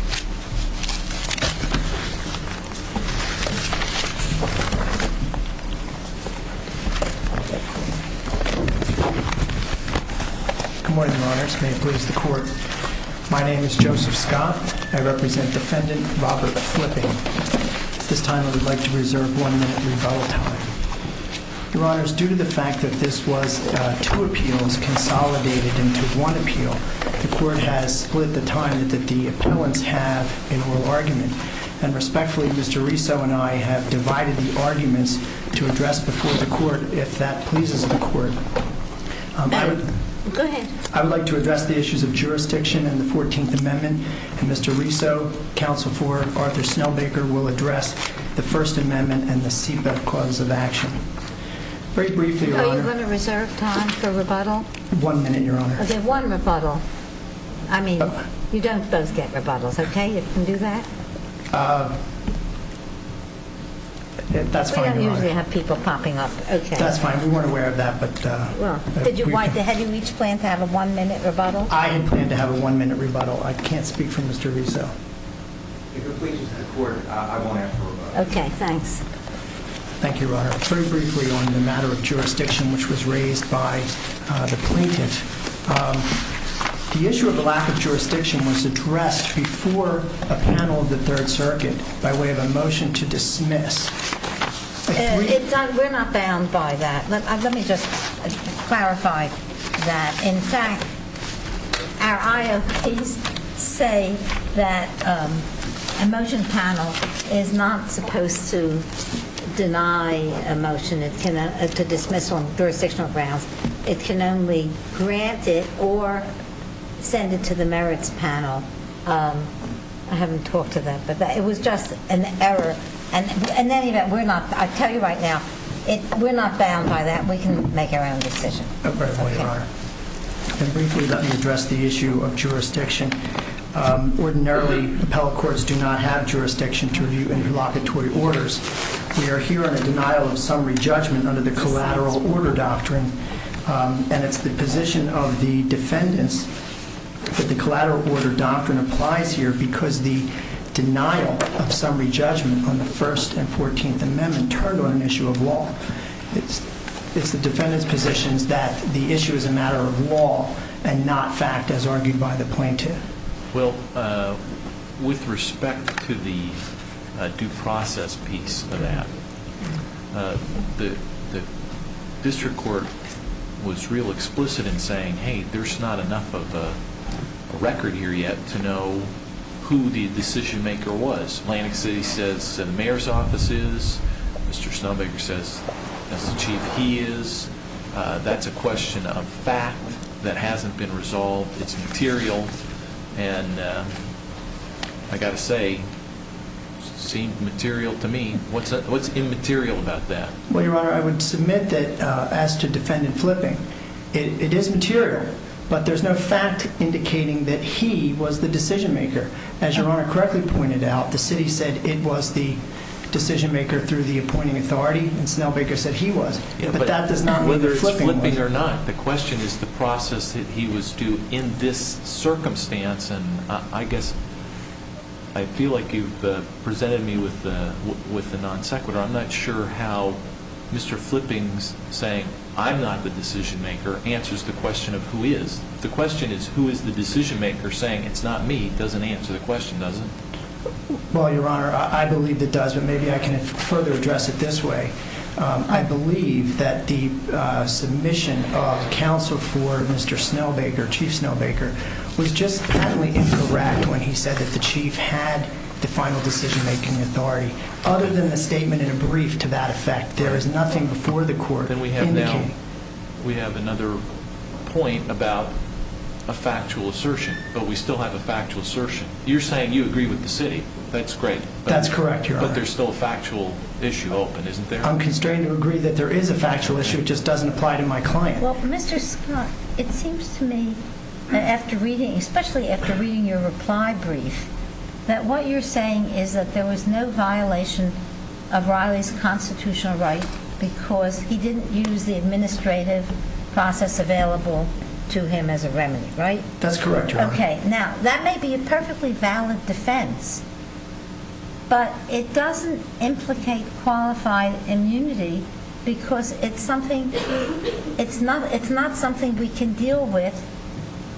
Good morning, Your Honors. May it please the Court, my name is Joseph Scott. I represent Defendant Robert Flipping. At this time, I would like to reserve one minute rebuttal time. Your Honors, due to the fact that this was two appeals consolidated into one appeal, the Court has split the time that the appellants have in oral argument. And respectfully, Mr. Riso and I have divided the arguments to address before the Court, if that pleases the Court. I would like to address the issues of jurisdiction in the 14th Amendment, and Mr. Riso, Counsel for Arthur Snellbaker, will address the First Amendment and the CEPA cause of action. Very I mean, you don't both get rebuttals, okay? You can do that? We don't usually have people popping up. That's fine. We weren't aware of that. Did you each plan to have a one-minute rebuttal? I had planned to have a one-minute rebuttal. I can't speak for Mr. Riso. If it pleases the Court, I won't ask for a rebuttal. Okay, thanks. Thank you, Your Honor. Very The issue of the lack of jurisdiction was addressed before a panel of the Third Circuit by way of a motion to dismiss. We're not bound by that. Let me just clarify that. In fact, our IOPs say that a motion panel is not supposed to deny a motion to dismiss on jurisdictional grounds. It can only grant it or send it to the merits panel. I haven't talked to them, but it was just an error. In any event, we're not, I tell you right now, we're not bound by that. We can make our own decision. Okay, Your Honor. Briefly, let me address the issue of jurisdiction. Ordinarily, appellate courts do not have jurisdiction to review interlocutory orders. We are here on a denial of summary judgment under the Collateral Order Doctrine. And it's the position of the defendants that the Collateral Order Doctrine applies here because the denial of summary judgment on the First and Fourteenth Amendment turned on an issue of law. It's the defendants' positions that the issue is a matter of law and not fact, as argued by the plaintiff. Well, with respect to the due process piece of that, the district court was real explicit in saying, hey, there's not enough of a record here yet to know who the decision maker was. Atlantic City says the mayor's office is. Mr. Snowbaker says that's the chief. He is. That's a question of fact that hasn't been resolved. It's material. And I got to say, seemed material to me. What's what's immaterial about that? Well, Your Honor, I would submit that as to defendant flipping, it is material, but there's no fact indicating that he was the decision maker. As Your Honor correctly pointed out, the city said it was the decision maker through the appointing authority. And Snowbaker said he was. But that does not mean there's flipping or not. The question is the process that he was due in this circumstance. And I guess I feel like you've presented me with the with the non sequitur. I'm not sure how Mr. Flipping's saying I'm not the decision maker answers the question of who is. The question is, who is the decision maker saying it's not me? Doesn't answer the question, does it? Well, Your Honor, I believe that does. But maybe I can further address it this way. I believe that the submission of counsel for Mr. Snowbaker, Chief Snowbaker, was just partly incorrect when he said that the chief had the final decision making authority other than the statement in a brief. To that effect, there is nothing before the court that we have now. We have another point about a factual assertion, but we still have a factual assertion. You're saying you agree with the city. That's great. That's correct, Your Honor. But there's still a factual issue open, isn't there? I'm constrained to agree that there is a factual issue. It just doesn't apply to my client. Well, Mr. Scott, it seems to me after reading, especially after reading your reply brief, that what you're saying is that there was no violation of Riley's constitutional right because he didn't use the administrative process available to him as a remedy, right? That's correct, Your Honor. Okay. Now, that may be a perfectly valid defense, but it doesn't implicate qualified immunity because it's something, it's not something we can deal with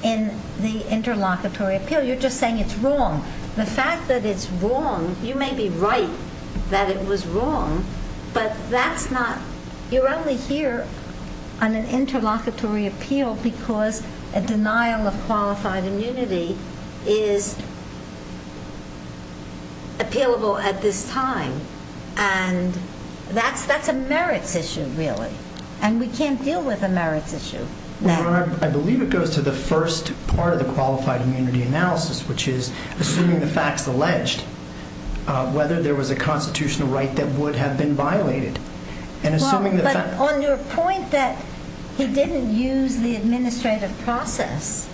in the interlocutory appeal. You're just saying it's wrong. The fact that it's wrong, you may be right that it was wrong, but that's not, you're only here on an interlocutory appeal because a denial of qualified immunity is appealable at this time, and that's a merits issue, really, and we can't deal with a merits issue now. Your Honor, I believe it goes to the first part of the qualified immunity analysis, which is assuming the fact's alleged, whether there was a constitutional right that would have been violated. Well, but on your point that he didn't use the administrative process,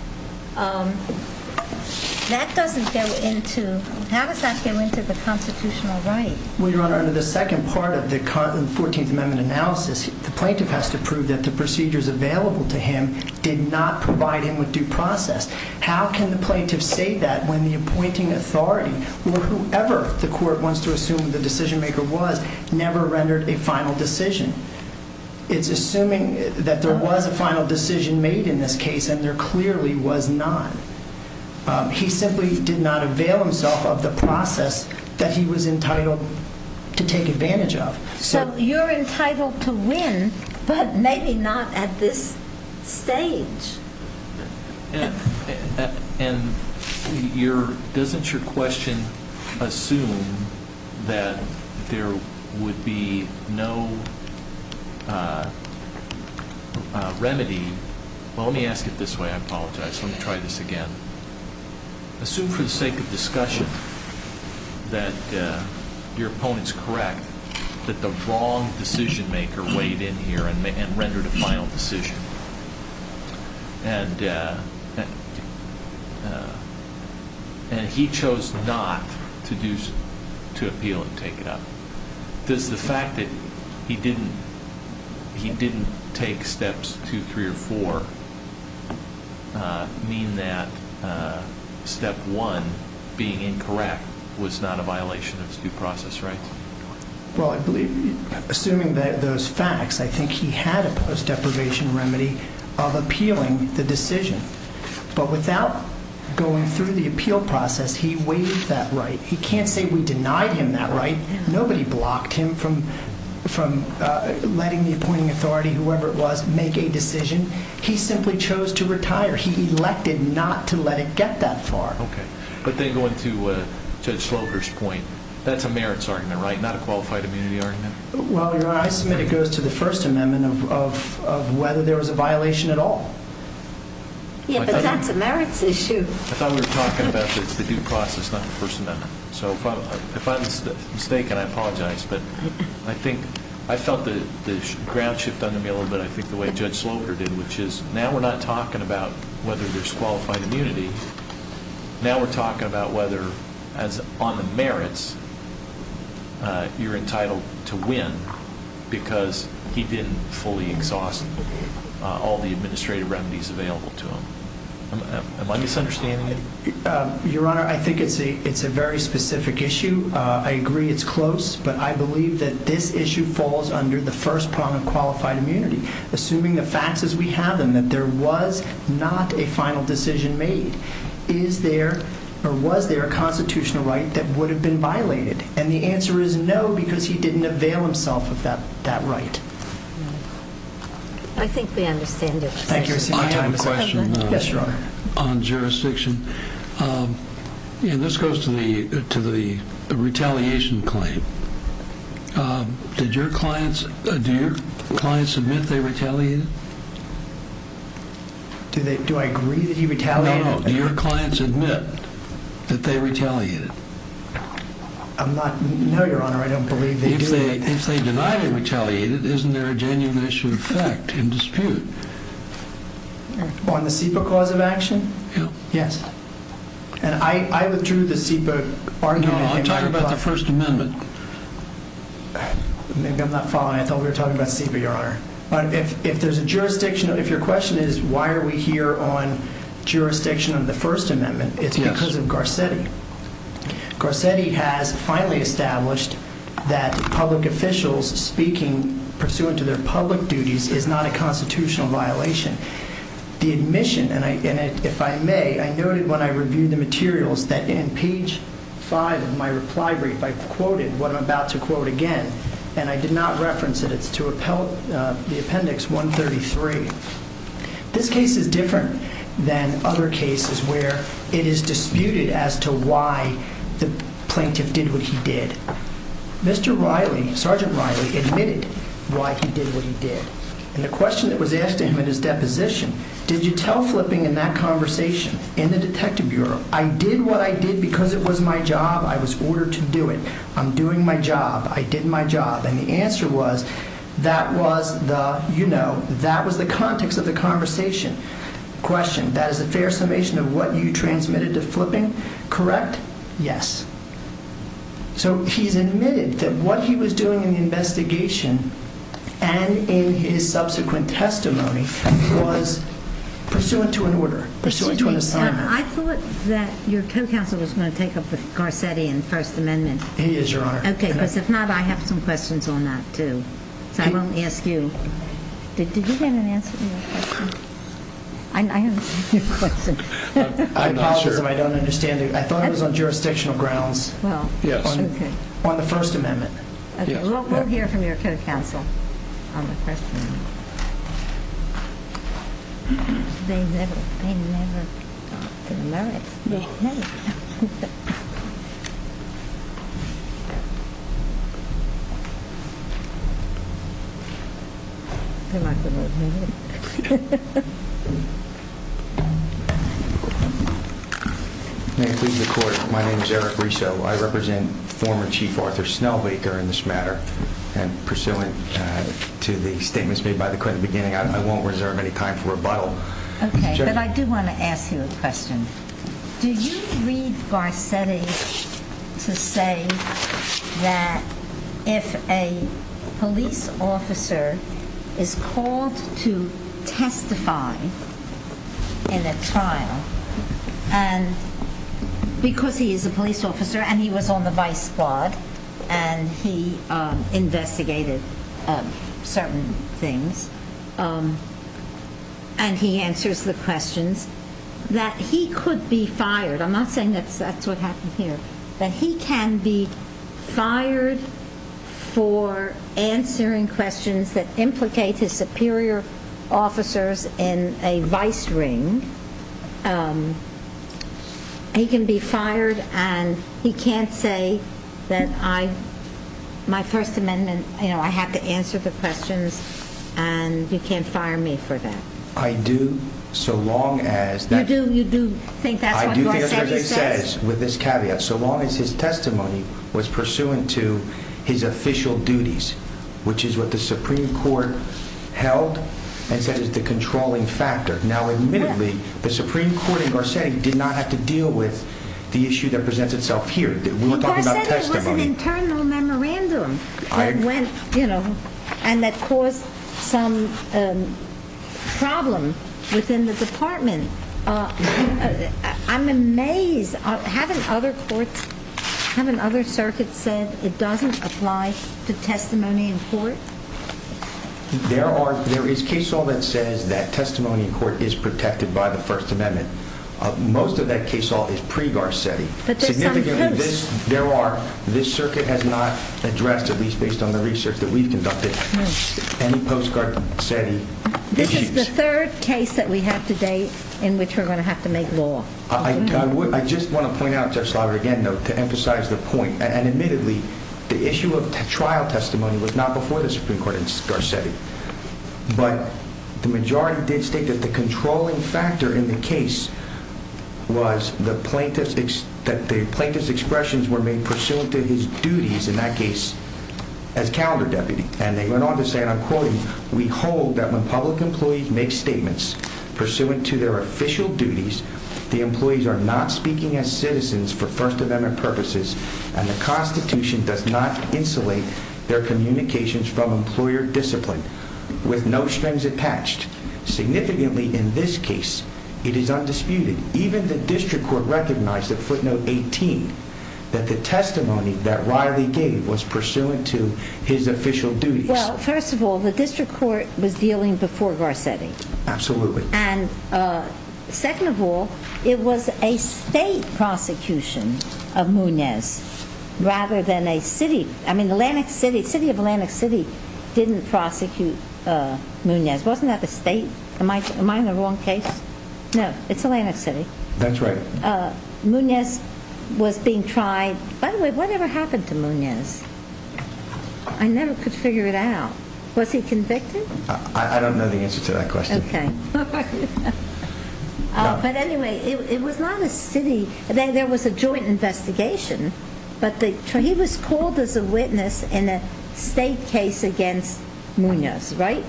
that doesn't go into, how does that go into the constitutional right? Well, Your Honor, under the second part of the 14th Amendment analysis, the plaintiff has to prove that the procedures available to him did not provide him with due process. How can the plaintiff say that when the appointing authority or whoever the court wants to assume the decision never rendered a final decision? It's assuming that there was a final decision made in this case, and there clearly was not. He simply did not avail himself of the process that he was entitled to take advantage of. So you're entitled to win, but maybe not at this stage. And doesn't your question assume that there would be no remedy? Well, let me ask it this way. I apologize. Let me try this again. Assume for the sake of discussion that your opponent's correct that the wrong decision weighed in here and rendered a final decision, and he chose not to appeal and take it up. Does the fact that he didn't take steps two, three, or four mean that step one, being incorrect, was not a violation of due process rights? Well, assuming those facts, I think he had a post deprivation remedy of appealing the decision. But without going through the appeal process, he weighed that right. He can't say we denied him that right. Nobody blocked him from letting the appointing authority, whoever it was, make a decision. He simply chose to retire. He elected not to let it get that far. But then going to Judge Slocar's point, that's a merits argument, right? Not a qualified immunity argument? Well, Your Honor, I submit it goes to the First Amendment of whether there was a violation at all. Yeah, but that's a merits issue. I thought we were talking about the due process, not the First Amendment. So if I'm mistaken, I apologize. But I felt the ground shift on the mill a bit, I think the way Judge Slocar did, which is now we're not talking about whether there's qualified immunity. Now we're talking about whether, as on the merits, you're entitled to win because he didn't fully exhaust all the administrative remedies available to him. Am I misunderstanding you? Your Honor, I think it's a very specific issue. I agree it's close, but I believe that this issue falls under the first prong of qualified immunity. Assuming the facts as we have them, that there was not a final decision made, is there or was there a constitutional right that would have been violated? And the answer is no, because he didn't avail himself of that right. I think we understand it. Thank you. I have a question on jurisdiction. And this goes to the retaliation claim. Do your clients admit they retaliated? Do I agree that he retaliated? No, no. Do your clients admit that they retaliated? I'm not... No, Your Honor, I don't believe they do. If they deny they retaliated, isn't there a genuine issue of fact and dispute? On the SEPA cause of action? Yes. And I withdrew the SEPA argument. No, I'm talking about the First Amendment. Maybe I'm not following. I thought we were talking about SEPA, Your Honor. If there's a jurisdiction, if your question is why are we here on jurisdiction on the First Amendment, it's because of Garcetti. Garcetti has finally established that public officials speaking pursuant to their public duties is not a constitutional violation. The admission, if I may, I noted when I reviewed the materials that in page five of my reply brief, I quoted what I'm about to quote again. And I did not reference it. It's to the appendix 133. This case is different than other cases where it is disputed as to why the plaintiff did what he did. Mr. Riley, Sergeant Riley admitted why he did what he did. And the question that was asked him in his deposition, did you tell Flipping in that conversation, in the detective bureau, I did what I did because it was my job. I was ordered to do it. I'm doing my job. I did my job. And the answer was that was the, you know, that was the context of the conversation. Question, that is a fair summation of what you transmitted to Flipping, correct? Yes. So he's admitted that what he was doing in the investigation and in his subsequent testimony was pursuant to an order, pursuant to an assignment. Excuse me, I thought that your co-counsel was going to take up the Garcetti and first amendment. He is, Your Honor. Okay, because if not, I have some questions on that too. So I won't ask you. Did you get an answer to your question? I'm not sure. I apologize if I don't understand you. I thought it was on jurisdictional grounds on the first amendment. Okay, we'll hear from your co-counsel on the My name is Eric Riso. I represent former Chief Arthur Snell Baker in this matter and pursuant to the statements made by the beginning, I won't reserve any time for rebuttal. But I do want to ask you a question. Do you read Garcetti to say that if a police officer is called to testify in a trial and because he is a police officer and he was on the vice squad and he investigated certain things and he answers the questions that he could be fired? I'm not implicate his superior officers in a vice ring. He can be fired and he can't say that I, my first amendment, you know, I have to answer the questions and you can't fire me for that. I do so long as that you do, you do think that's what he says with this caveat. So long as his held and said is the controlling factor. Now, admittedly, the Supreme Court in Garcetti did not have to deal with the issue that presents itself here. We're talking about testimony, internal memorandum. I went, you know, and that caused some problem within the department. I'm amazed. Haven't other courts, haven't other circuits said it doesn't apply to testimony in court? There are, there is case all that says that testimony in court is protected by the first amendment. Most of that case all is pre Garcetti, but there are, this circuit has not addressed at least based on the research that we've conducted, any postcard setting. This is the third case that we have today in which we're going to have to make law. I just want to point out just louder again, though, to emphasize the point. And admittedly, the issue of trial testimony was not before the Supreme Court in Garcetti, but the majority did state that the controlling factor in the case was the plaintiff's that the plaintiff's expressions were made pursuant to his duties in that case as calendar deputy. And they went on to say, and I'm quoting, we hold that when public employees make statements pursuant to their official duties, the employees are not speaking as citizens for first amendment purposes. And the constitution does not insulate their communications from employer discipline with no strings attached. Significantly in this case, it is undisputed. Even the district court recognized that footnote 18, that the testimony that Riley gave was pursuant to his official duties. Well, first of all, the district court was dealing before Garcetti. Absolutely. And uh, second of all, it was a state prosecution of Munez rather than a city. I mean, the Atlantic city, city of Atlantic city didn't prosecute, uh, Munez. Wasn't that the state? Am I, am I in the wrong case? No, it's Atlantic city. That's right. Uh, Munez was being tried. By the way, whatever happened to Munez, I never could figure it out. Was he convicted? I don't know the answer to that there was a joint investigation, but he was called as a witness in a state case against Munez, right?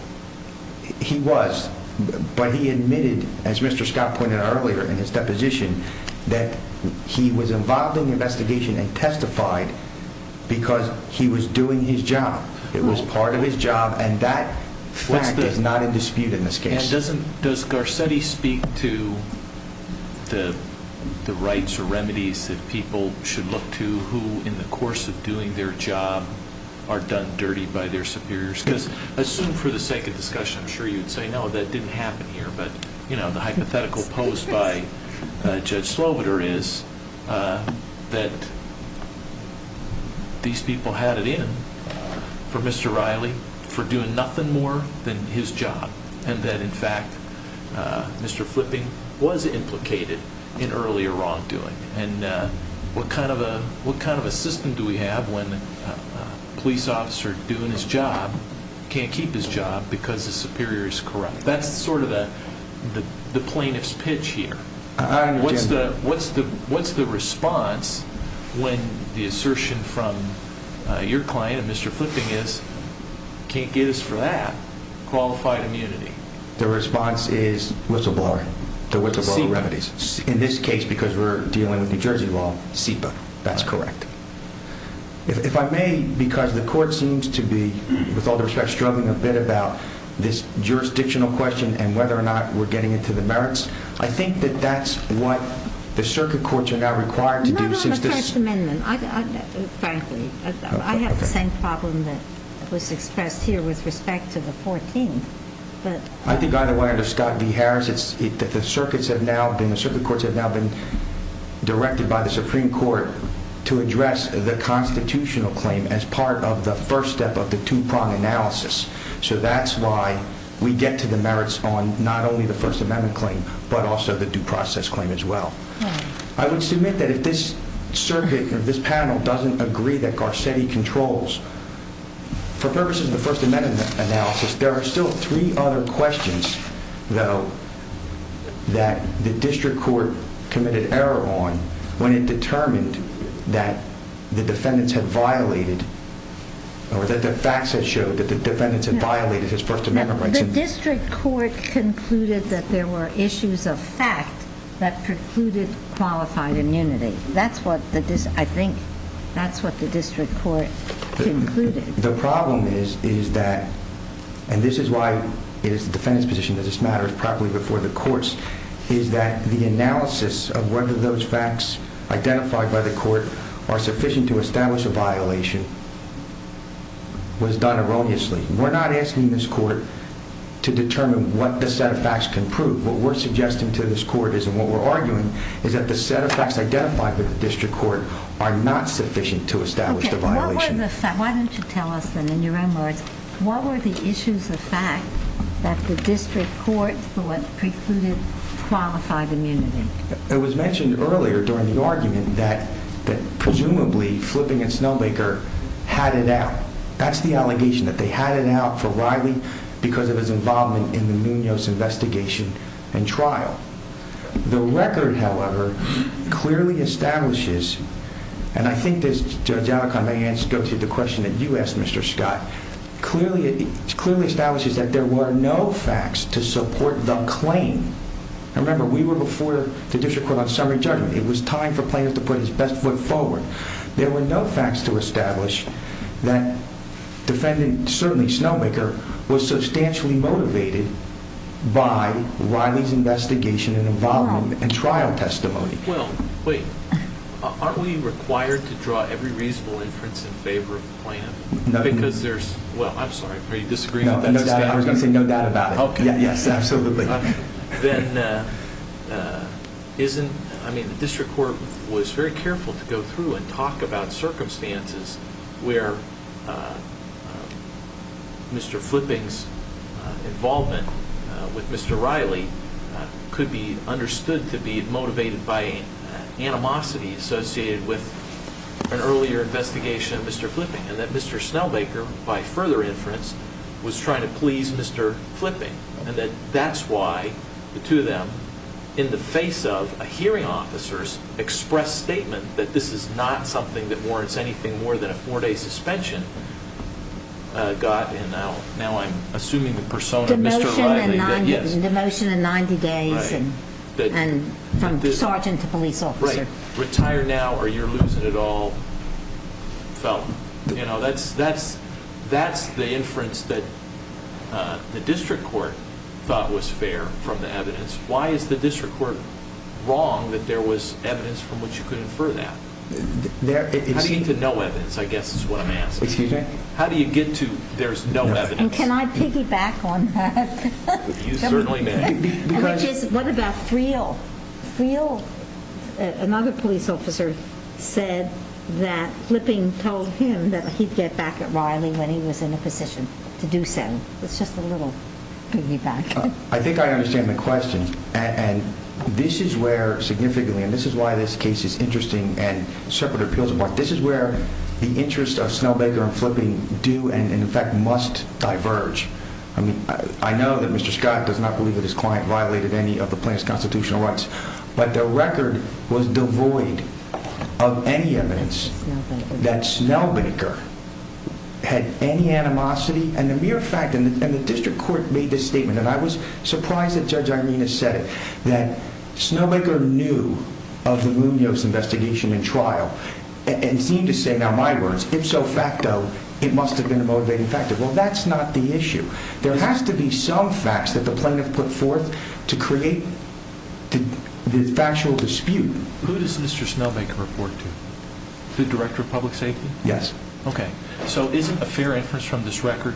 He was, but he admitted as Mr. Scott pointed out earlier in his deposition that he was involved in the investigation and testified because he was doing his job. It was part of his job and that fact is not in dispute in this case. Doesn't, does Garcetti speak to the, the rights or remedies that people should look to who in the course of doing their job are done dirty by their superiors? Because assume for the sake of discussion, I'm sure you'd say, no, that didn't happen here. But you know, the hypothetical posed by Judge Slobider is, uh, that these people had it in for Mr. Riley for doing nothing more than his job. And that in fact, Mr. Flipping was implicated in earlier wrongdoing. And what kind of a, what kind of a system do we have when a police officer doing his job can't keep his job because the superior is corrupt? That's sort of the plaintiff's pitch here. What's the, what's the, what's the response when the assertion from your client and Mr. Flipping is can't get us for that qualified immunity? The response is whistleblower, the whistleblower remedies in this case, because we're dealing with New Jersey law, SIPA. That's correct. If I may, because the court seems to be with all the respects, struggling a bit about this jurisdictional question and whether or not we're getting into the merits. I think that that's what the circuit courts are now required to do since this amendment, frankly, I have the same problem that was expressed here with respect to the 14th. I think either way under Scott B. Harris, it's that the circuits have now been, the circuit courts have now been directed by the Supreme Court to address the constitutional claim as part of the first step of the two-prong analysis. So that's why we get to the merits on not only the first amendment claim, but also the due process claim as well. I would submit that if this circuit or this panel doesn't agree that Garcetti controls for purposes of the first amendment analysis, there are still three other questions though that the district court committed error on when it determined that the defendants had violated or that the facts had showed that the defendants had violated his first amendment rights. The district court concluded that there were issues of fact that precluded qualified immunity. That's what the, I think that's what the district court concluded. The problem is, is that, and this is why it is the defendant's position that this matters properly before the courts, is that the analysis of whether those facts identified by the court are sufficient to establish a violation was done erroneously. We're not asking this court to determine what the set of facts can prove. What we're suggesting to this court is, what we're arguing is that the set of facts identified with the district court are not sufficient to establish the violation. Why don't you tell us then in your own words, what were the issues of fact that the district court thought precluded qualified immunity? It was mentioned earlier during the argument that presumably Flipping and Snowmaker had it out. That's the allegation that they had it out for Riley because of his involvement in the record. However, clearly establishes, and I think this judge Alicante may go to the question that you asked Mr. Scott, clearly, clearly establishes that there were no facts to support the claim. I remember we were before the district court on summary judgment. It was time for plaintiff to put his best foot forward. There were no facts to establish that defendant, certainly Snowmaker, was substantially motivated by Riley's investigation and involvement and trial testimony. Well, wait, aren't we required to draw every reasonable inference in favor of the plaintiff? Because there's, well, I'm sorry, are you disagreeing? No, I was going to say no doubt about it. Yes, absolutely. Then isn't, I mean, the district court was very careful to go through and talk about circumstances where Mr. Flipping's involvement with Mr. Riley could be understood to be motivated by animosity associated with an earlier investigation of Mr. Flipping and that Mr. Snowmaker, by further inference, was trying to please Mr. Flipping and that that's why the two of them, in the face of a hearing officer's express statement that this is not something that a four-day suspension got, and now I'm assuming the persona of Mr. Riley, that yes. The motion and 90 days and from sergeant to police officer. Right. Retire now or you're losing it all, felon. You know, that's the inference that the district court thought was fair from the evidence. Why is the district court wrong that there was evidence from which you could infer that? How do you get to no evidence? I guess that's what I'm asking. Excuse me? How do you get to there's no evidence? Can I piggyback on that? You certainly may. What about Friel? Friel, another police officer said that Flipping told him that he'd get back at Riley when he was in a position to do so. It's just a little piggyback. I think I understand the question and this is where significantly, and this is why this case is interesting and separate appeals. This is where the interest of Snell Baker and Flipping do and in fact must diverge. I mean, I know that Mr. Scott does not believe that his client violated any of the plaintiff's constitutional rights, but the record was devoid of any evidence that Snell Baker had any animosity and the mere fact in the district court made this statement, and I was surprised that Judge Irena said it, that Snell Baker knew of the Munoz investigation and trial and seemed to say, now my words, ipso facto, it must have been a motivating factor. Well, that's not the issue. There has to be some facts that the plaintiff put forth to create the factual dispute. Who does Mr. Snell Baker report to? The director of public safety? Yes. Okay, so isn't a fair inference from this record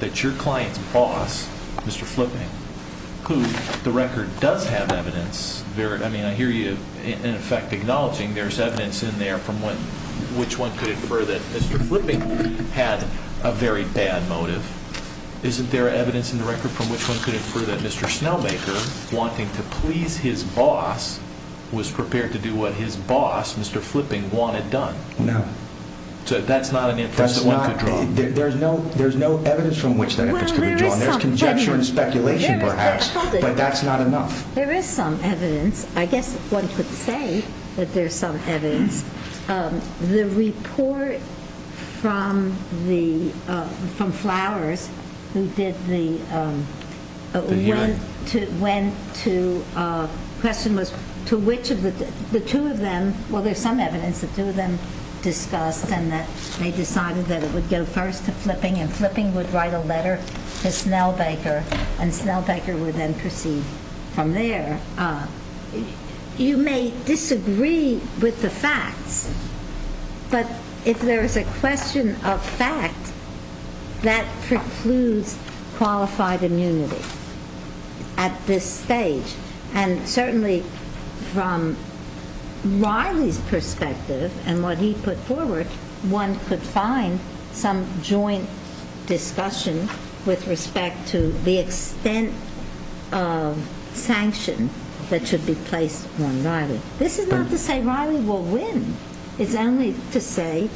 that your client's boss, Mr. Flipping, who the record does have evidence. I mean, I hear you in effect acknowledging there's evidence in there from which one could infer that Mr. Flipping had a very bad motive. Isn't there evidence in the record from which one could infer that Mr. Snell Baker, wanting to please his boss, was prepared to do what his boss, Mr. Flipping, wanted done? No. So that's not an inference that one could draw. There's no evidence from which that inference could be drawn. There's conjecture and speculation, perhaps, but that's not enough. There is some evidence. I guess one could say that there's some evidence. The report from Flowers who did the question was to which of the two of them, well, there's some evidence the two of them discussed, and that they decided that it would go first to Flipping, and Flipping would write a letter to Snell Baker, and Snell Baker would then proceed from there. You may disagree with the facts, but if there's a question of fact, that precludes qualified immunity at this stage, and certainly from Riley's perspective and what he put forward, one could find some joint discussion with respect to the extent of sanction that should be placed on Riley. This is not to say Riley will win. It's only to say,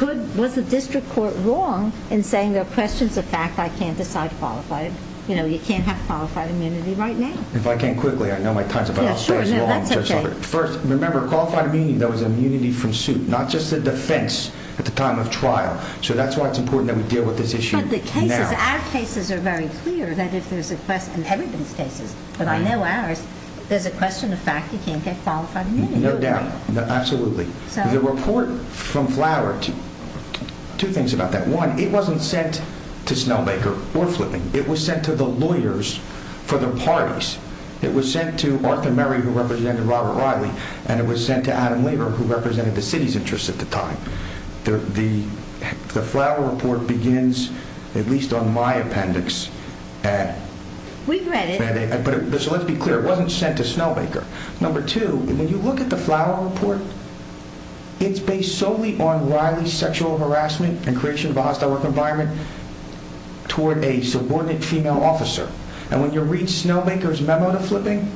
well, was the district court wrong in saying there are questions of fact, I can't decide qualified, you know, you can't have qualified immunity right now? If I can quickly, I know my time's about up. Yeah, sure, no, that's okay. First, remember, qualified immunity, though, is immunity from suit, not just the defense at the time of trial. So that's why it's important that we deal with this issue now. But the cases, our cases are very clear that if there's a question, and everyone's cases, but I know ours, there's a question of fact, you can't get qualified immunity. Absolutely. The report from Flower, two things about that. One, it wasn't sent to Snowbaker or Flipping. It was sent to the lawyers for the parties. It was sent to Arthur Murray, who represented Robert Riley, and it was sent to Adam Lever, who represented the city's interests at the time. The Flower report begins, at least on my appendix. We've read it. So let's be clear, it wasn't sent to Snowbaker. Number two, when you look at the Flower report, it's based solely on Riley's sexual harassment and creation of a hostile work environment toward a subordinate female officer. And when you read Snowbaker's memo to Flipping,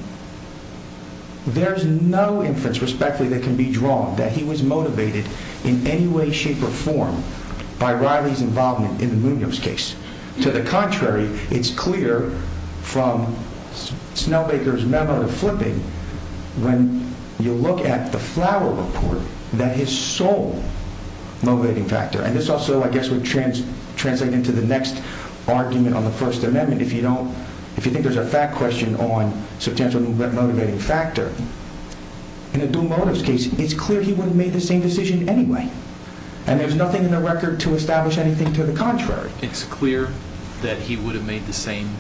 there's no inference, respectfully, that can be drawn that he was motivated in any way, shape, or form by Riley's involvement in the Munoz case. To the contrary, it's clear from Snowbaker's memo to Flipping, when you look at the Flower report, that his sole motivating factor, and this also, I guess, would translate into the next argument on the First Amendment. If you think there's a fact question on substantial motivating factor, in a dual motives case, it's clear he would have made the same decision anyway. And there's nothing in the record to establish anything to the contrary. It's clear that he would have made the same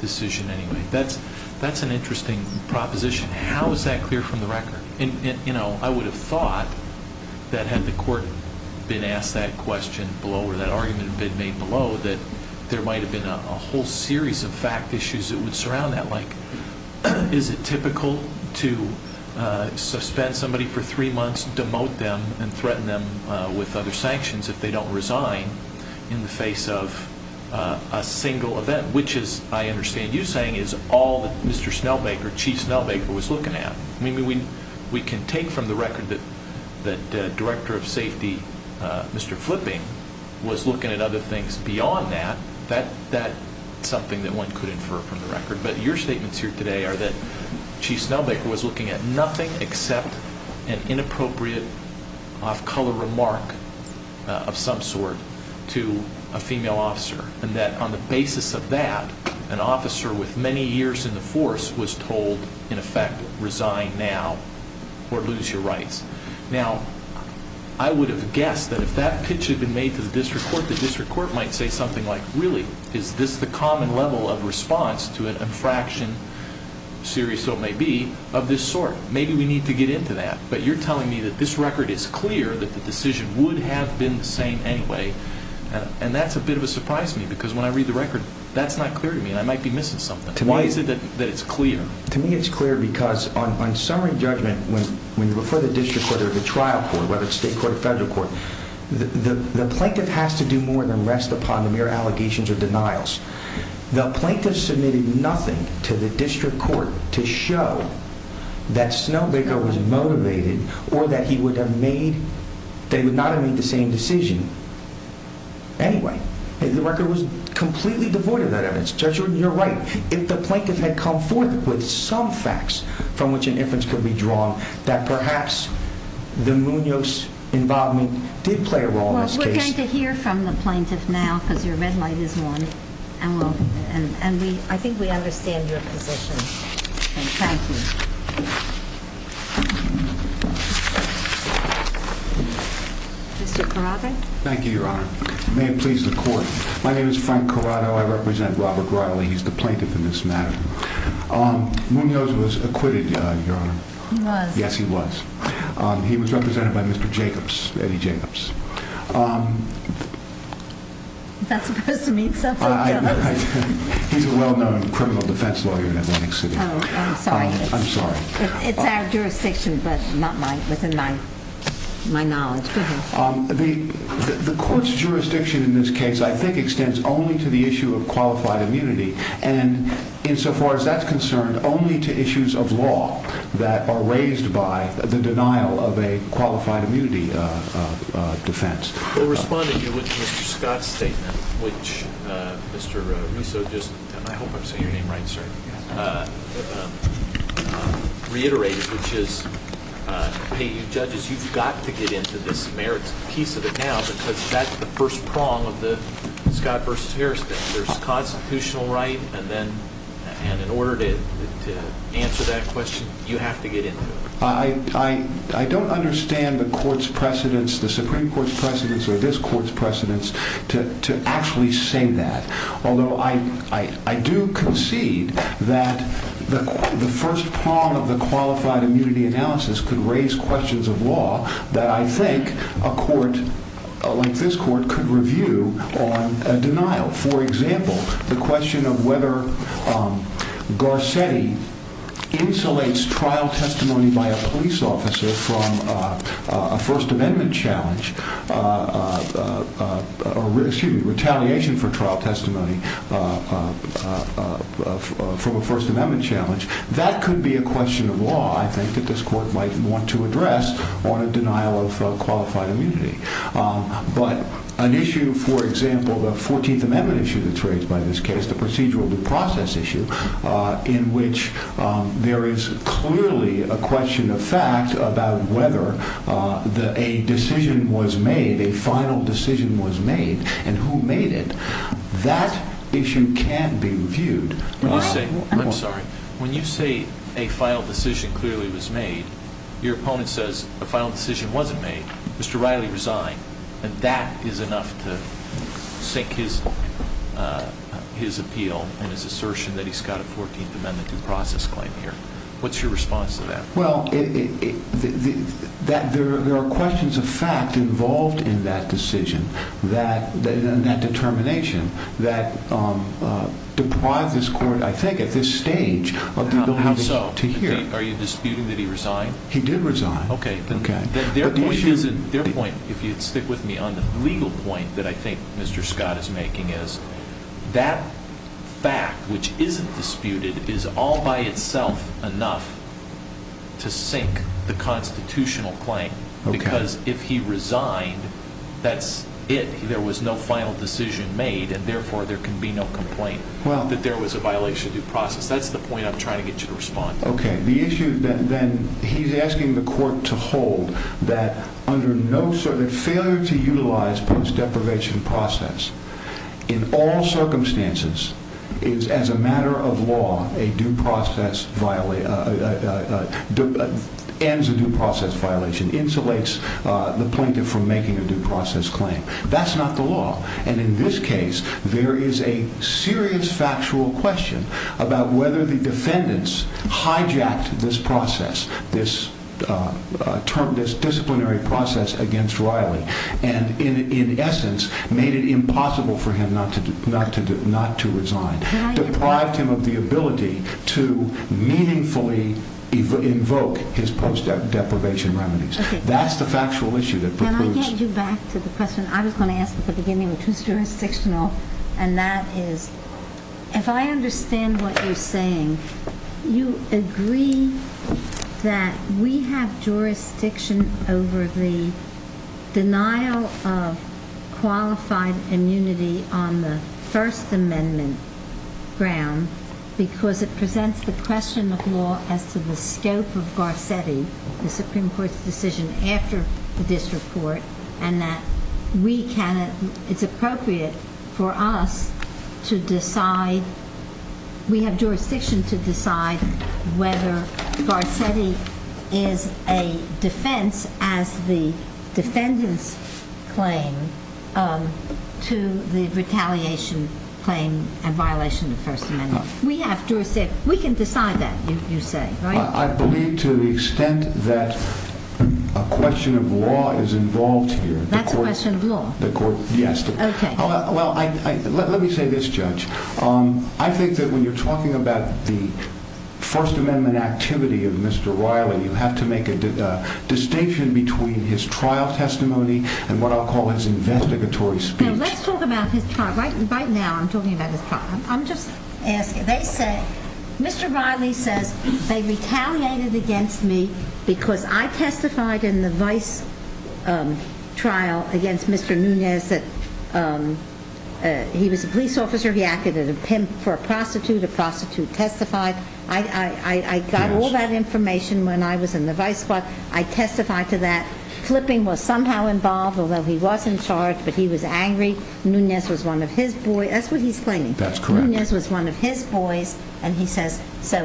decision anyway. That's an interesting proposition. How is that clear from the record? And, you know, I would have thought that had the court been asked that question below, or that argument had been made below, that there might have been a whole series of fact issues that would surround that. Like, is it typical to suspend somebody for three months, demote them, and threaten them with other sanctions if they don't resign in the face of a single event? Which, as I understand you saying, is all that Mr. Snowbaker, Chief Snowbaker, was looking at. I mean, we can take from the record that Director of Safety, Mr. Flipping, was looking at other things beyond that. That's something that one could infer from the record. But your statements here today are that inappropriate off-color remark of some sort to a female officer, and that on the basis of that, an officer with many years in the force was told, in effect, resign now or lose your rights. Now, I would have guessed that if that pitch had been made to the district court, the district court might say something like, really, is this the common level of response to an infraction, serious though it may be, of this sort? Maybe we need to get into that. But you're telling me that this record is clear that the decision would have been the same anyway. And that's a bit of a surprise to me, because when I read the record, that's not clear to me, and I might be missing something. Why is it that it's clear? To me, it's clear because on summary judgment, when you refer the district court or the trial court, whether it's state court or federal court, the plaintiff has to do more than rest upon the mere allegations or denials. The plaintiff submitted nothing to the district court to show that Snowbreaker was motivated or that he would have made, they would not have made the same decision anyway. The record was completely devoid of that evidence. Judge, you're right. If the plaintiff had come forth with some facts from which an inference could be drawn, that perhaps the Munoz involvement did play a role in this case. Well, we're going to hear from the plaintiff now, because your red light is on. And I think we understand your position. Thank you. Mr. Corrado. Thank you, Your Honor. May it please the court. My name is Frank Corrado. I represent Robert Riley. He's the plaintiff in this matter. Munoz was acquitted, Your Honor. He was. Yes, he was. He was represented by Mr. Jacobs, Eddie Jacobs. Is that supposed to mean something to us? He's a well-known criminal defense lawyer in Atlantic City. Oh, I'm sorry. I'm sorry. It's our jurisdiction, but not within my knowledge. The court's jurisdiction in this case, I think, extends only to the issue of qualified immunity. And insofar as that's concerned, only to issues of law that are raised by the denial of a defense. We'll respond to you with Mr. Scott's statement, which Mr. Russo just, I hope I'm saying your name right, sorry, reiterated, which is, hey, you judges, you've got to get into this merits piece of it now, because that's the first prong of the Scott v. Harris thing. There's constitutional right, and then, and in order to answer that question, you have to get into it. I don't understand the court's precedents, the Supreme Court's precedents, or this court's precedents to actually say that. Although I do concede that the first prong of the qualified immunity analysis could raise questions of law that I think a court like this court could review on a denial. For example, the question of whether Garcetti insulates trial testimony by a police officer from a First Amendment challenge, or excuse me, retaliation for trial testimony from a First Amendment challenge, that could be a question of law, I think, that this court might want to address on a denial of qualified immunity. But an issue, for example, the 14th Amendment issue that's raised by this case, the procedural due process issue, in which there is clearly a question of fact about whether a decision was made, a final decision was made, and who made it, that issue can be reviewed. When you say, I'm sorry, when you say a final decision clearly was made, your opponent says a final decision wasn't made, Mr. Riley resigned, and that is enough to sink his appeal and his assertion that he's got a 14th Amendment due process claim here. What's your response to that? Well, there are questions of fact involved in that decision, in that determination, that deprive this court, I think, at this stage, of being able to hear. Are you disputing that he resigned? He did resign. Okay. Their point, if you'd stick with me, on the legal point that I think Mr. Scott is making is that fact, which isn't disputed, is all by itself enough to sink the constitutional claim, because if he resigned, that's it. There was no final decision made, and therefore, there can be no complaint that there was a violation of due process. That's the point I'm trying to get you to respond to. Okay. The issue then, he's asking the court to hold that under no certain failure to utilize post-deprivation process, in all circumstances, is, as a matter of law, ends a due process violation, insulates the plaintiff from making a due process claim. That's not the law, and in this case, there is a serious factual question about whether the defendants hijacked this process, this term, this disciplinary process against Riley, and in essence, made it impossible for him not to resign. Deprived him of the ability to meaningfully invoke his post-deprivation remedies. That's the factual issue that precludes... Can I get you back to the question I was going to ask at the beginning, which was jurisdictional, and that is, if I understand what you're saying, you agree that we have jurisdiction over the denial of qualified immunity on the First Amendment ground, because it presents the question of law as to the scope of Garcetti, the Supreme Court's decision after the disreport, and that we cannot, it's appropriate for us to decide, we have jurisdiction to decide whether Garcetti is a defense as the defendant's claim to the retaliation claim and violation of the First Amendment. We have jurisdiction, we can decide that, you say, right? I believe to the extent that a question of law is involved here. That's a question of law? The court, yes. Okay. Well, let me say this, Judge. I think that when you're talking about the First Amendment activity of Mr. Riley, you have to make a distinction between his trial testimony and what I'll call his investigatory speech. Let's talk about his trial. Right now, I'm talking about his trial. I'm just asking. They say, Mr. Riley says, they retaliated against me because I testified in the vice trial against Mr. Nunez that he was a police officer, he acted as a pimp for a prostitute, a prostitute testified. I got all that information when I was in the vice trial. I testified to that. Flipping was somehow involved, although he was in charge, but he was angry. Nunez was one of his boys. That's what he's claiming. That's correct. Nunez was one of his boys, and he says,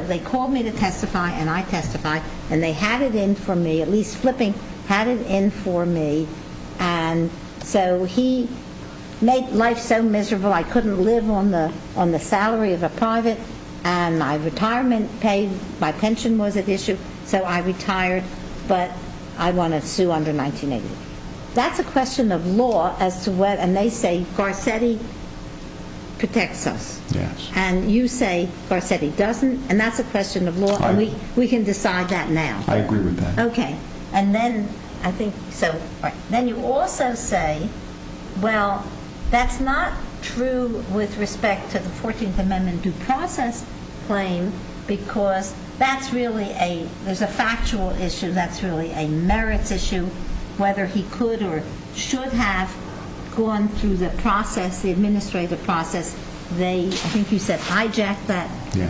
they called me to testify, and I testified, and they had it in for me, at least Flipping had it in for me. He made life so miserable, I couldn't live on the salary of a private, and my retirement paid, my pension was at issue, so I retired, but I want to sue under 1980. That's a question of law as to what, and they say, Garcetti protects us. And you say Garcetti doesn't, and that's a question of law, and we can decide that now. I agree with that. Okay, and then I think, so then you also say, well, that's not true with respect to the 14th amendment due process claim, because that's really a, there's a factual issue, that's really a merits issue, whether he could or should have gone through the process, the administrative process, they, I think you said hijacked that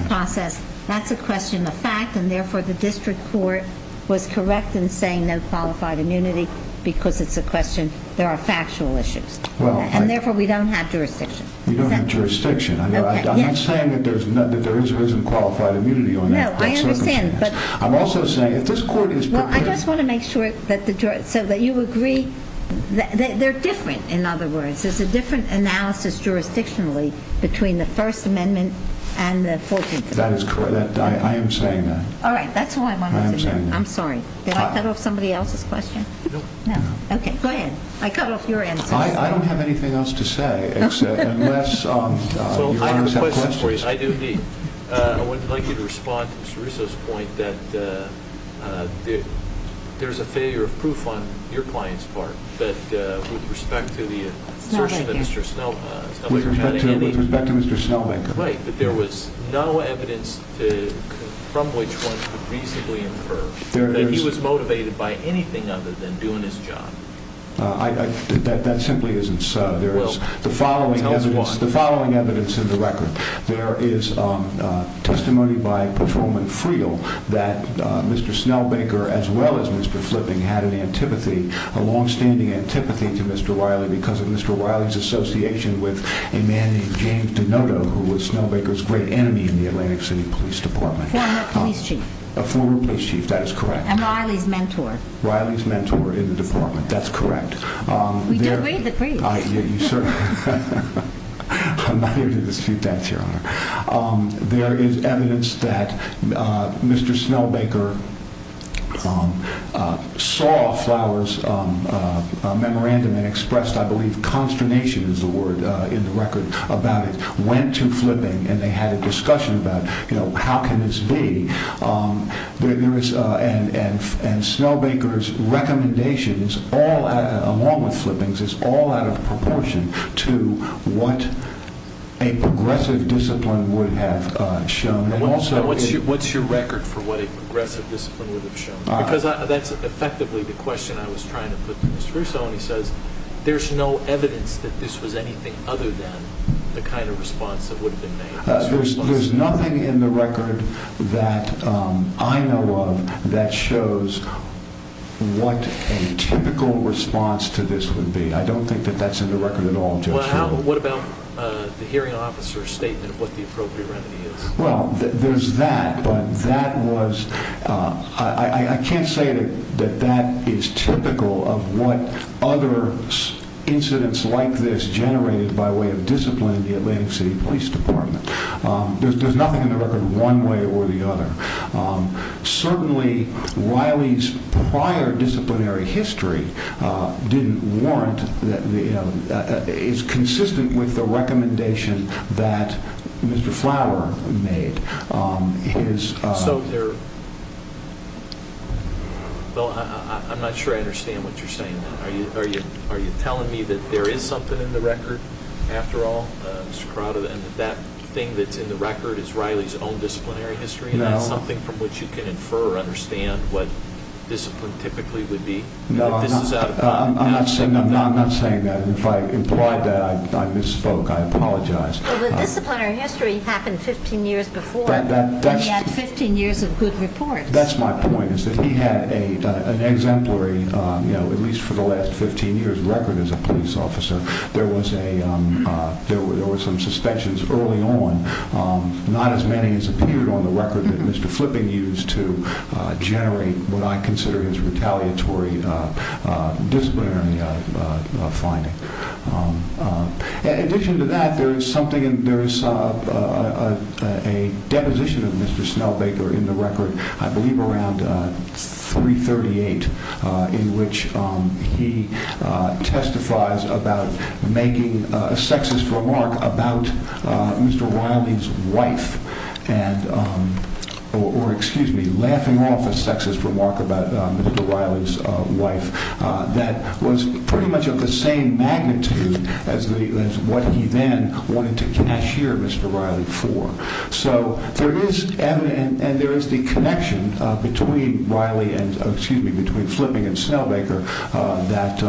process, that's a question of fact, and therefore, the district court was correct in saying no qualified immunity, because it's a question, there are factual issues, and therefore, we don't have jurisdiction. We don't have jurisdiction. I'm not saying that there isn't qualified immunity. No, I understand, but. I'm also saying, if this court is prepared. Well, I just want to make sure that the, so that you agree, they're different, in other words, there's a different analysis jurisdictionally between the first amendment and the 14th amendment. That is correct, I am saying that. All right, that's all I wanted to know. I'm sorry, did I cut off somebody else's question? No. No, okay, go ahead, I cut off your answer. I don't have anything else to say, except, unless. So, I have a question for you, I do indeed. I would like you to respond to Mr. Russo's point that there's a failure of proof on your client's part, but with respect to the assertion that Mr. Snellbaker had. With respect to Mr. Snellbaker. Right, that there was no evidence from which one could reasonably infer that he was motivated by anything other than doing his job. That simply isn't so, there is the following evidence in the record. There is testimony by patrolman Friel that Mr. Snellbaker, as well as Mr. Flipping, had an antipathy, a long-standing antipathy to Mr. Riley, because of Mr. Riley's association with a man named James Denoto, who was Snellbaker's great enemy in the Atlantic City Police Department. Former police chief. A former police chief, that is correct. And Riley's mentor. Riley's mentor in the department, that's correct. We do read the creeds. Sir, I'm not here to dispute that, your honor. There is evidence that Mr. Snellbaker saw Flowers' memorandum and expressed, I believe, consternation is the word in the record about it. Went to Flipping and they had a discussion about, you know, how can this be? There is, and Snellbaker's recommendations, along with Flipping's, is all out of proportion to what a progressive discipline would have shown. What's your record for what a progressive discipline would have shown? Because that's effectively the question I was trying to put to Mr. Russo, and he says there's no evidence that this was anything other than the kind of response that would have been made. There's nothing in the record that I know of that shows what a typical response to this would be. I don't think that that's in the record at all. What about the hearing officer's statement of what the appropriate remedy is? Well, there's that, but that was, I can't say that that is typical of what other incidents like this generated by way of discipline in the Atlantic City Police Department. There's nothing in the record one way or the other. Certainly, Riley's prior disciplinary history didn't warrant, is consistent with the recommendation that Mr. Flower made. So there, well, I'm not sure I understand what you're saying. Are you telling me that there is something in the record after all, Mr. Corrado, and that thing that's in the record is Riley's own disciplinary history? Is that something from which you can infer or understand what discipline typically would be? No, I'm not saying that. If I implied that, I misspoke. I apologize. Well, the disciplinary history happened 15 years before. Then he had 15 years of good reports. That's my point, is that he had an exemplary, at least for the last 15 years, record as a police officer. There were some suspensions early on. Not as many as appeared on the record that Mr. Flipping used to generate what I consider his retaliatory disciplinary finding. In addition to that, there is something, there is a deposition of Mr. Snellbaker in the record, I believe around 338, in which he testifies about making a sexist remark about Mr. Riley's wife. Or, excuse me, laughing off a sexist remark about Mr. Riley's wife that was pretty much of the same magnitude as what he then wanted to cashier Mr. Riley for. There is evidence, and there is the connection between Riley and, excuse me, between Flipping and Snellbaker that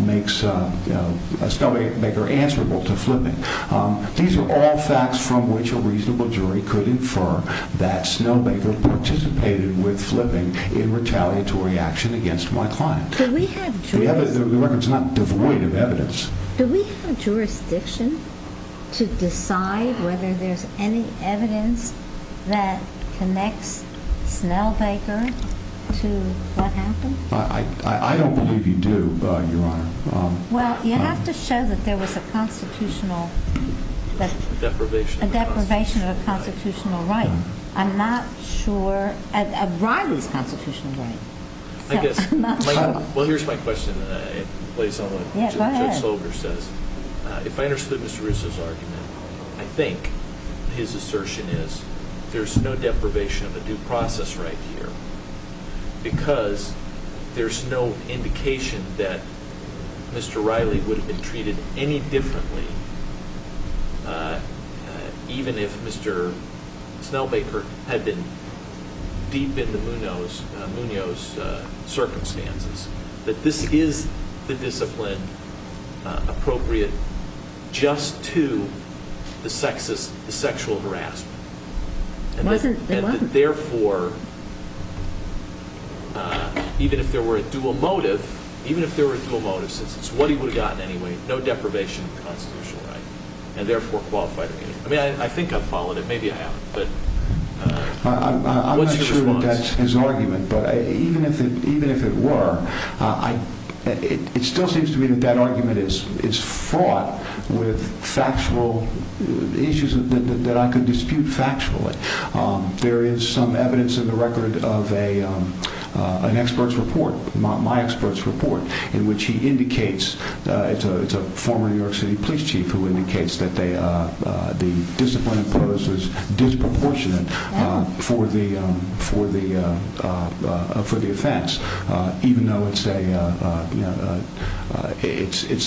makes Snellbaker answerable to Flipping. These are all facts from which a reasonable jury could infer that Snellbaker participated with Flipping in retaliatory action against my client. Do we have jurisdiction to decide whether there's any evidence that connects Snellbaker to what happened? I don't believe you do, Your Honor. Well, you have to show that there was a constitutional deprivation of a constitutional right. I'm not sure. Riley's constitutional right. Well, here's my question that plays on what Judge Slover says. If I understood Mr. Russo's argument, I think his assertion is there's no deprivation of a due process right here. Because there's no indication that Mr. Riley would have been treated any differently even if Mr. Snellbaker had been deep in the Munoz circumstances. But this is the discipline appropriate just to the sexual harassment. It wasn't. Therefore, even if there were a dual motive, even if there were dual motives, it's what he would have gotten anyway. No deprivation of constitutional right and therefore qualified. I mean, I think I've followed it. Maybe I haven't. But I'm not sure that that's his argument. But even if it were, it still seems to me that that argument is fraught with factual issues that I could dispute factually. There is some evidence in the record of an expert's report, my expert's report, in which he indicates it's a former New York City police chief who indicates that the discipline imposed was disproportionate for the offense. Even though it's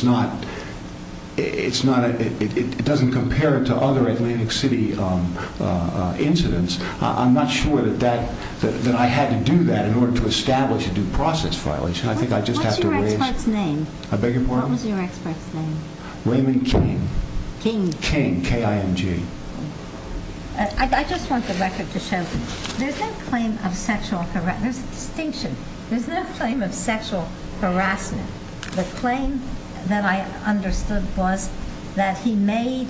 not, it doesn't compare to other Atlantic City incidents. I'm not sure that I had to do that in order to establish a due process violation. I think I just have to raise. What's your expert's name? I beg your pardon? What was your expert's name? Raymond King. King. King, K-I-M-G. I just want the record to show that there's no claim of sexual harassment. There's a distinction. There's no claim of sexual harassment. The claim that I understood was that he made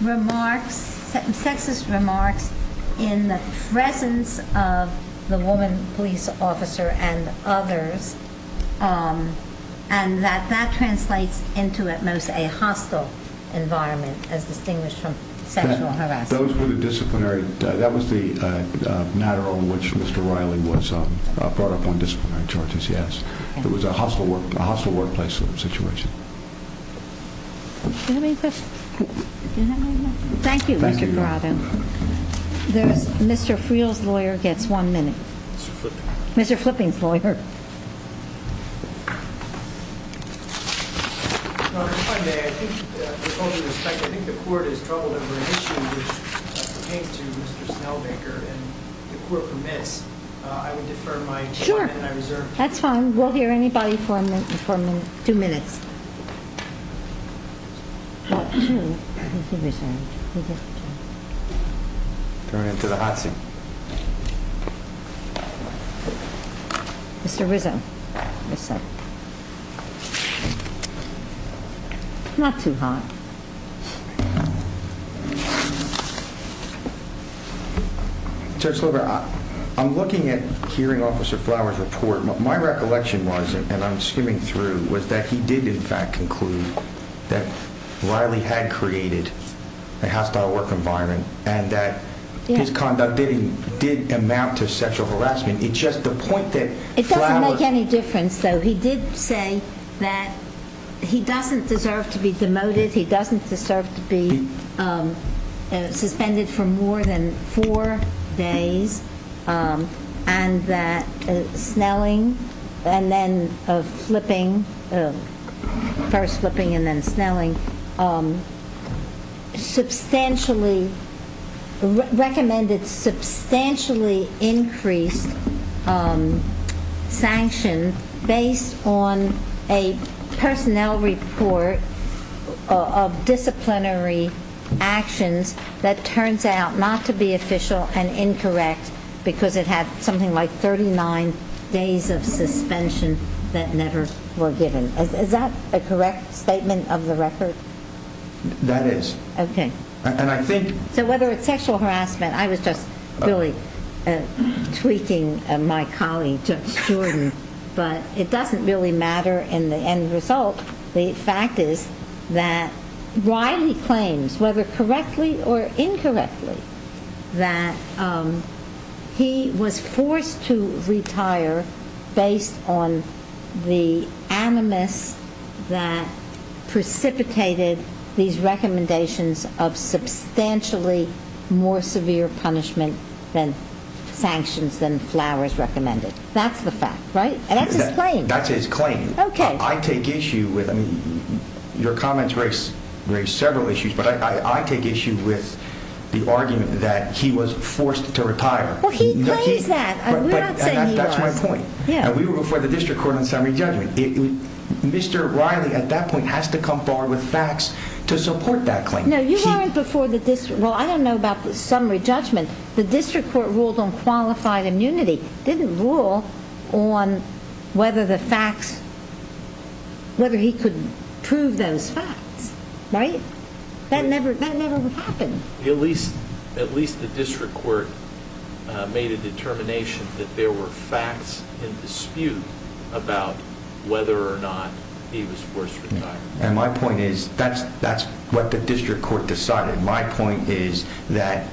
remarks, sexist remarks, in the presence of the woman police officer and others, and that that translates into at most a hostile environment as distinguished from sexual harassment. Those were the disciplinary, that was the matter on which Mr. Riley was brought up on disciplinary charges, yes. It was a hostile workplace situation. Do you have any questions? Thank you, Mr. Groton. Mr. Friel's lawyer gets one minute. Mr. Flipping's lawyer. Your Honor, if I may, I think with all due respect, I think the court is troubled over an issue which pertains to Mr. Snellbaker, and if the court permits, I would defer my time. Sure, that's fine. We'll hear anybody for a minute, two minutes. Turn it to the hot seat. Mr. Rizzo. Not too hot. Judge Slover, I'm looking at hearing Officer Flowers' report. My recollection was, and I'm skimming through, was that he did in fact conclude that Riley had created a hostile work environment, and that his conduct didn't did amount to sexual harassment. It's just the point that Flowers... It doesn't make any difference, though. He did say that he doesn't deserve to be demoted. He doesn't deserve to be suspended for more than four days, and that Snelling and then Flipping, first Flipping and then Snelling, recommended substantially increased sanctions based on a personnel report of disciplinary actions that turns out not to be official and incorrect because it had something like 39 days of suspension that never were given. Is that a correct statement of the record? That is. Okay. And I think... So whether it's sexual harassment, I was just really tweaking my colleague, Judge Jordan, but it doesn't really matter in the end result. The fact is that Riley claims, whether correctly or incorrectly, that he was forced to retire based on the animus that precipitated these recommendations of substantially more severe punishment than sanctions than Flowers recommended. That's the fact, right? And that's his claim. That's his claim. Okay. I take issue with... I mean, your comments raise several issues, but I take issue with the argument that he was forced to retire. Well, he claims that. We're not saying he was. That's my point. Yeah. And we were before the district court on summary judgment. Mr. Riley, at that point, has to come forward with facts to support that claim. No, you weren't before the district. Well, I don't know about the summary judgment. The district court ruled on qualified immunity. Didn't rule on whether he could prove those facts, right? That never would happen. At least the district court made a determination that there were facts in dispute about whether or not he was forced to retire. And my point is, that's what the district court decided. My point is that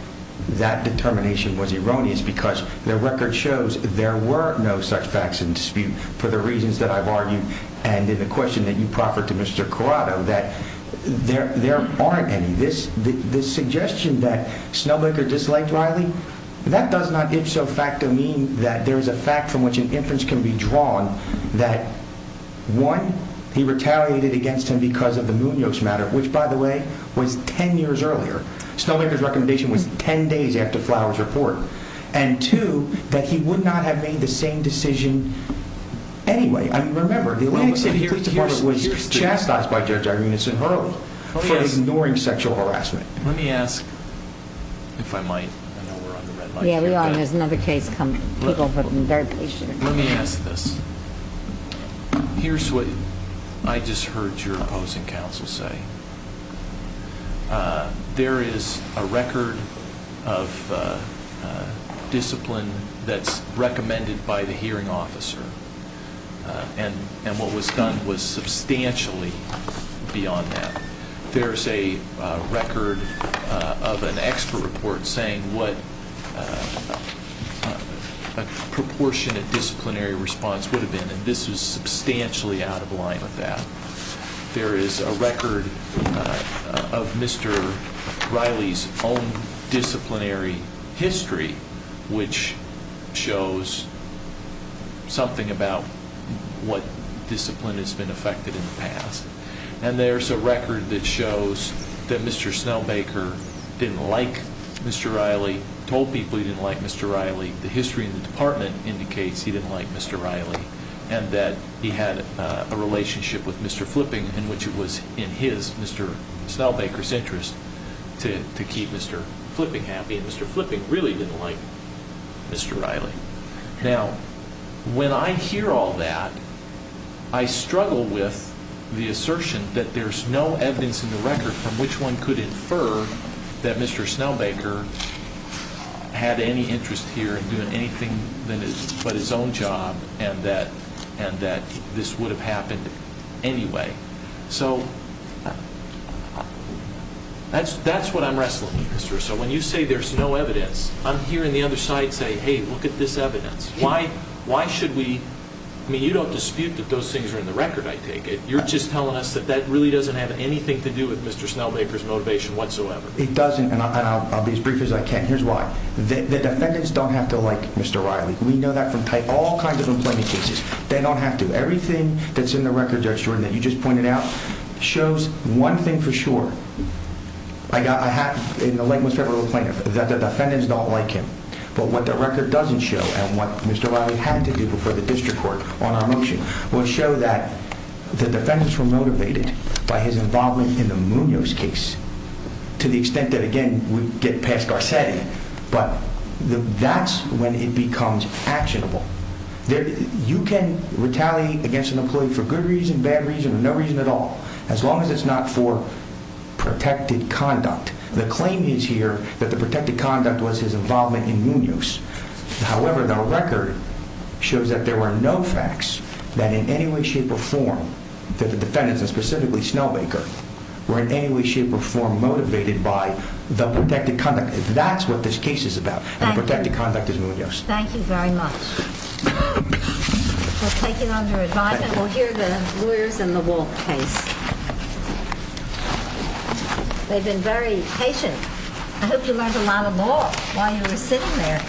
that determination was erroneous because the record shows there were no such facts in dispute for the reasons that I've argued, and in the question that you proffered to Mr. Corrado, that there aren't any. The suggestion that Snowmaker disliked Riley, that does not ipso facto mean that there is a fact from which an inference can be drawn that, one, he retaliated against him because of the Munoz matter, which, by the way, was 10 years earlier. Snowmaker's recommendation was 10 days after Flowers' report. And two, that he would not have made the same decision anyway. I mean, remember, the Atlantic City Police Department was chastised by Judge Irina Sinharo for ignoring sexual harassment. Let me ask, if I might, I know we're on the red line. Yeah, we are, and there's another case coming. People have been very patient. Let me ask this. Here's what I just heard your opposing counsel say. There is a record of discipline that's recommended by the hearing officer, and what was done was substantially beyond that. There's a record of an expert report saying what a proportionate disciplinary response would have been, and this was substantially out of line with that. There is a record of Mr. Riley's own disciplinary history, which shows something about what discipline has been affected in the past. And there's a record that shows that Mr. Snowmaker didn't like Mr. Riley, told people he didn't like Mr. Riley. The history in the department indicates he didn't like Mr. Riley, and that he had a relationship with Mr. Flipping, in which it was in his, Mr. Snowmaker's interest to keep Mr. Flipping happy, and Mr. Flipping really didn't like Mr. Riley. Now, when I hear all that, I struggle with the assertion that there's no evidence in the record from which one could infer that Mr. Snowmaker had any interest here in doing anything but his own job, and that this would have happened anyway. So, that's what I'm wrestling with, Mr. Russell. When you say there's no evidence, I'm hearing the other side say, hey, look at this evidence. Why should we? I mean, you don't dispute that those things are in the record, I take it. You're just telling us that that really doesn't have anything to do with Mr. Snowmaker's motivation whatsoever. It doesn't, and I'll be as brief as I can. Here's why. The defendants don't have to like Mr. Riley. We know that from all kinds of employment cases. They don't have to. Everything that's in the record, Judge Jordan, that you just pointed out shows one thing for sure. I got a hat in the Lakewood Federal Plaintiff that the defendants don't like him, but what the record doesn't show and what Mr. Riley had to do before the district court on our motion will show that the defendants were motivated by his involvement in the Munoz case to the extent that, again, we get past Garcetti, but that's when it becomes actionable. You can retaliate against an employee for good reason, bad reason, or no reason at all, as long as it's not for protected conduct. The claim is here that the protected conduct was his involvement in Munoz. However, the record shows that there were no facts that in any way, shape, or form that the defendants, and specifically Snowmaker, were in any way, shape, or form motivated by the protected conduct. That's what this case is about, and protected conduct is Munoz. Thank you very much. We'll take it under advisement. We'll hear the lawyers in the Walke case. They've been very patient. I hope you learned a lot of law while you were sitting there.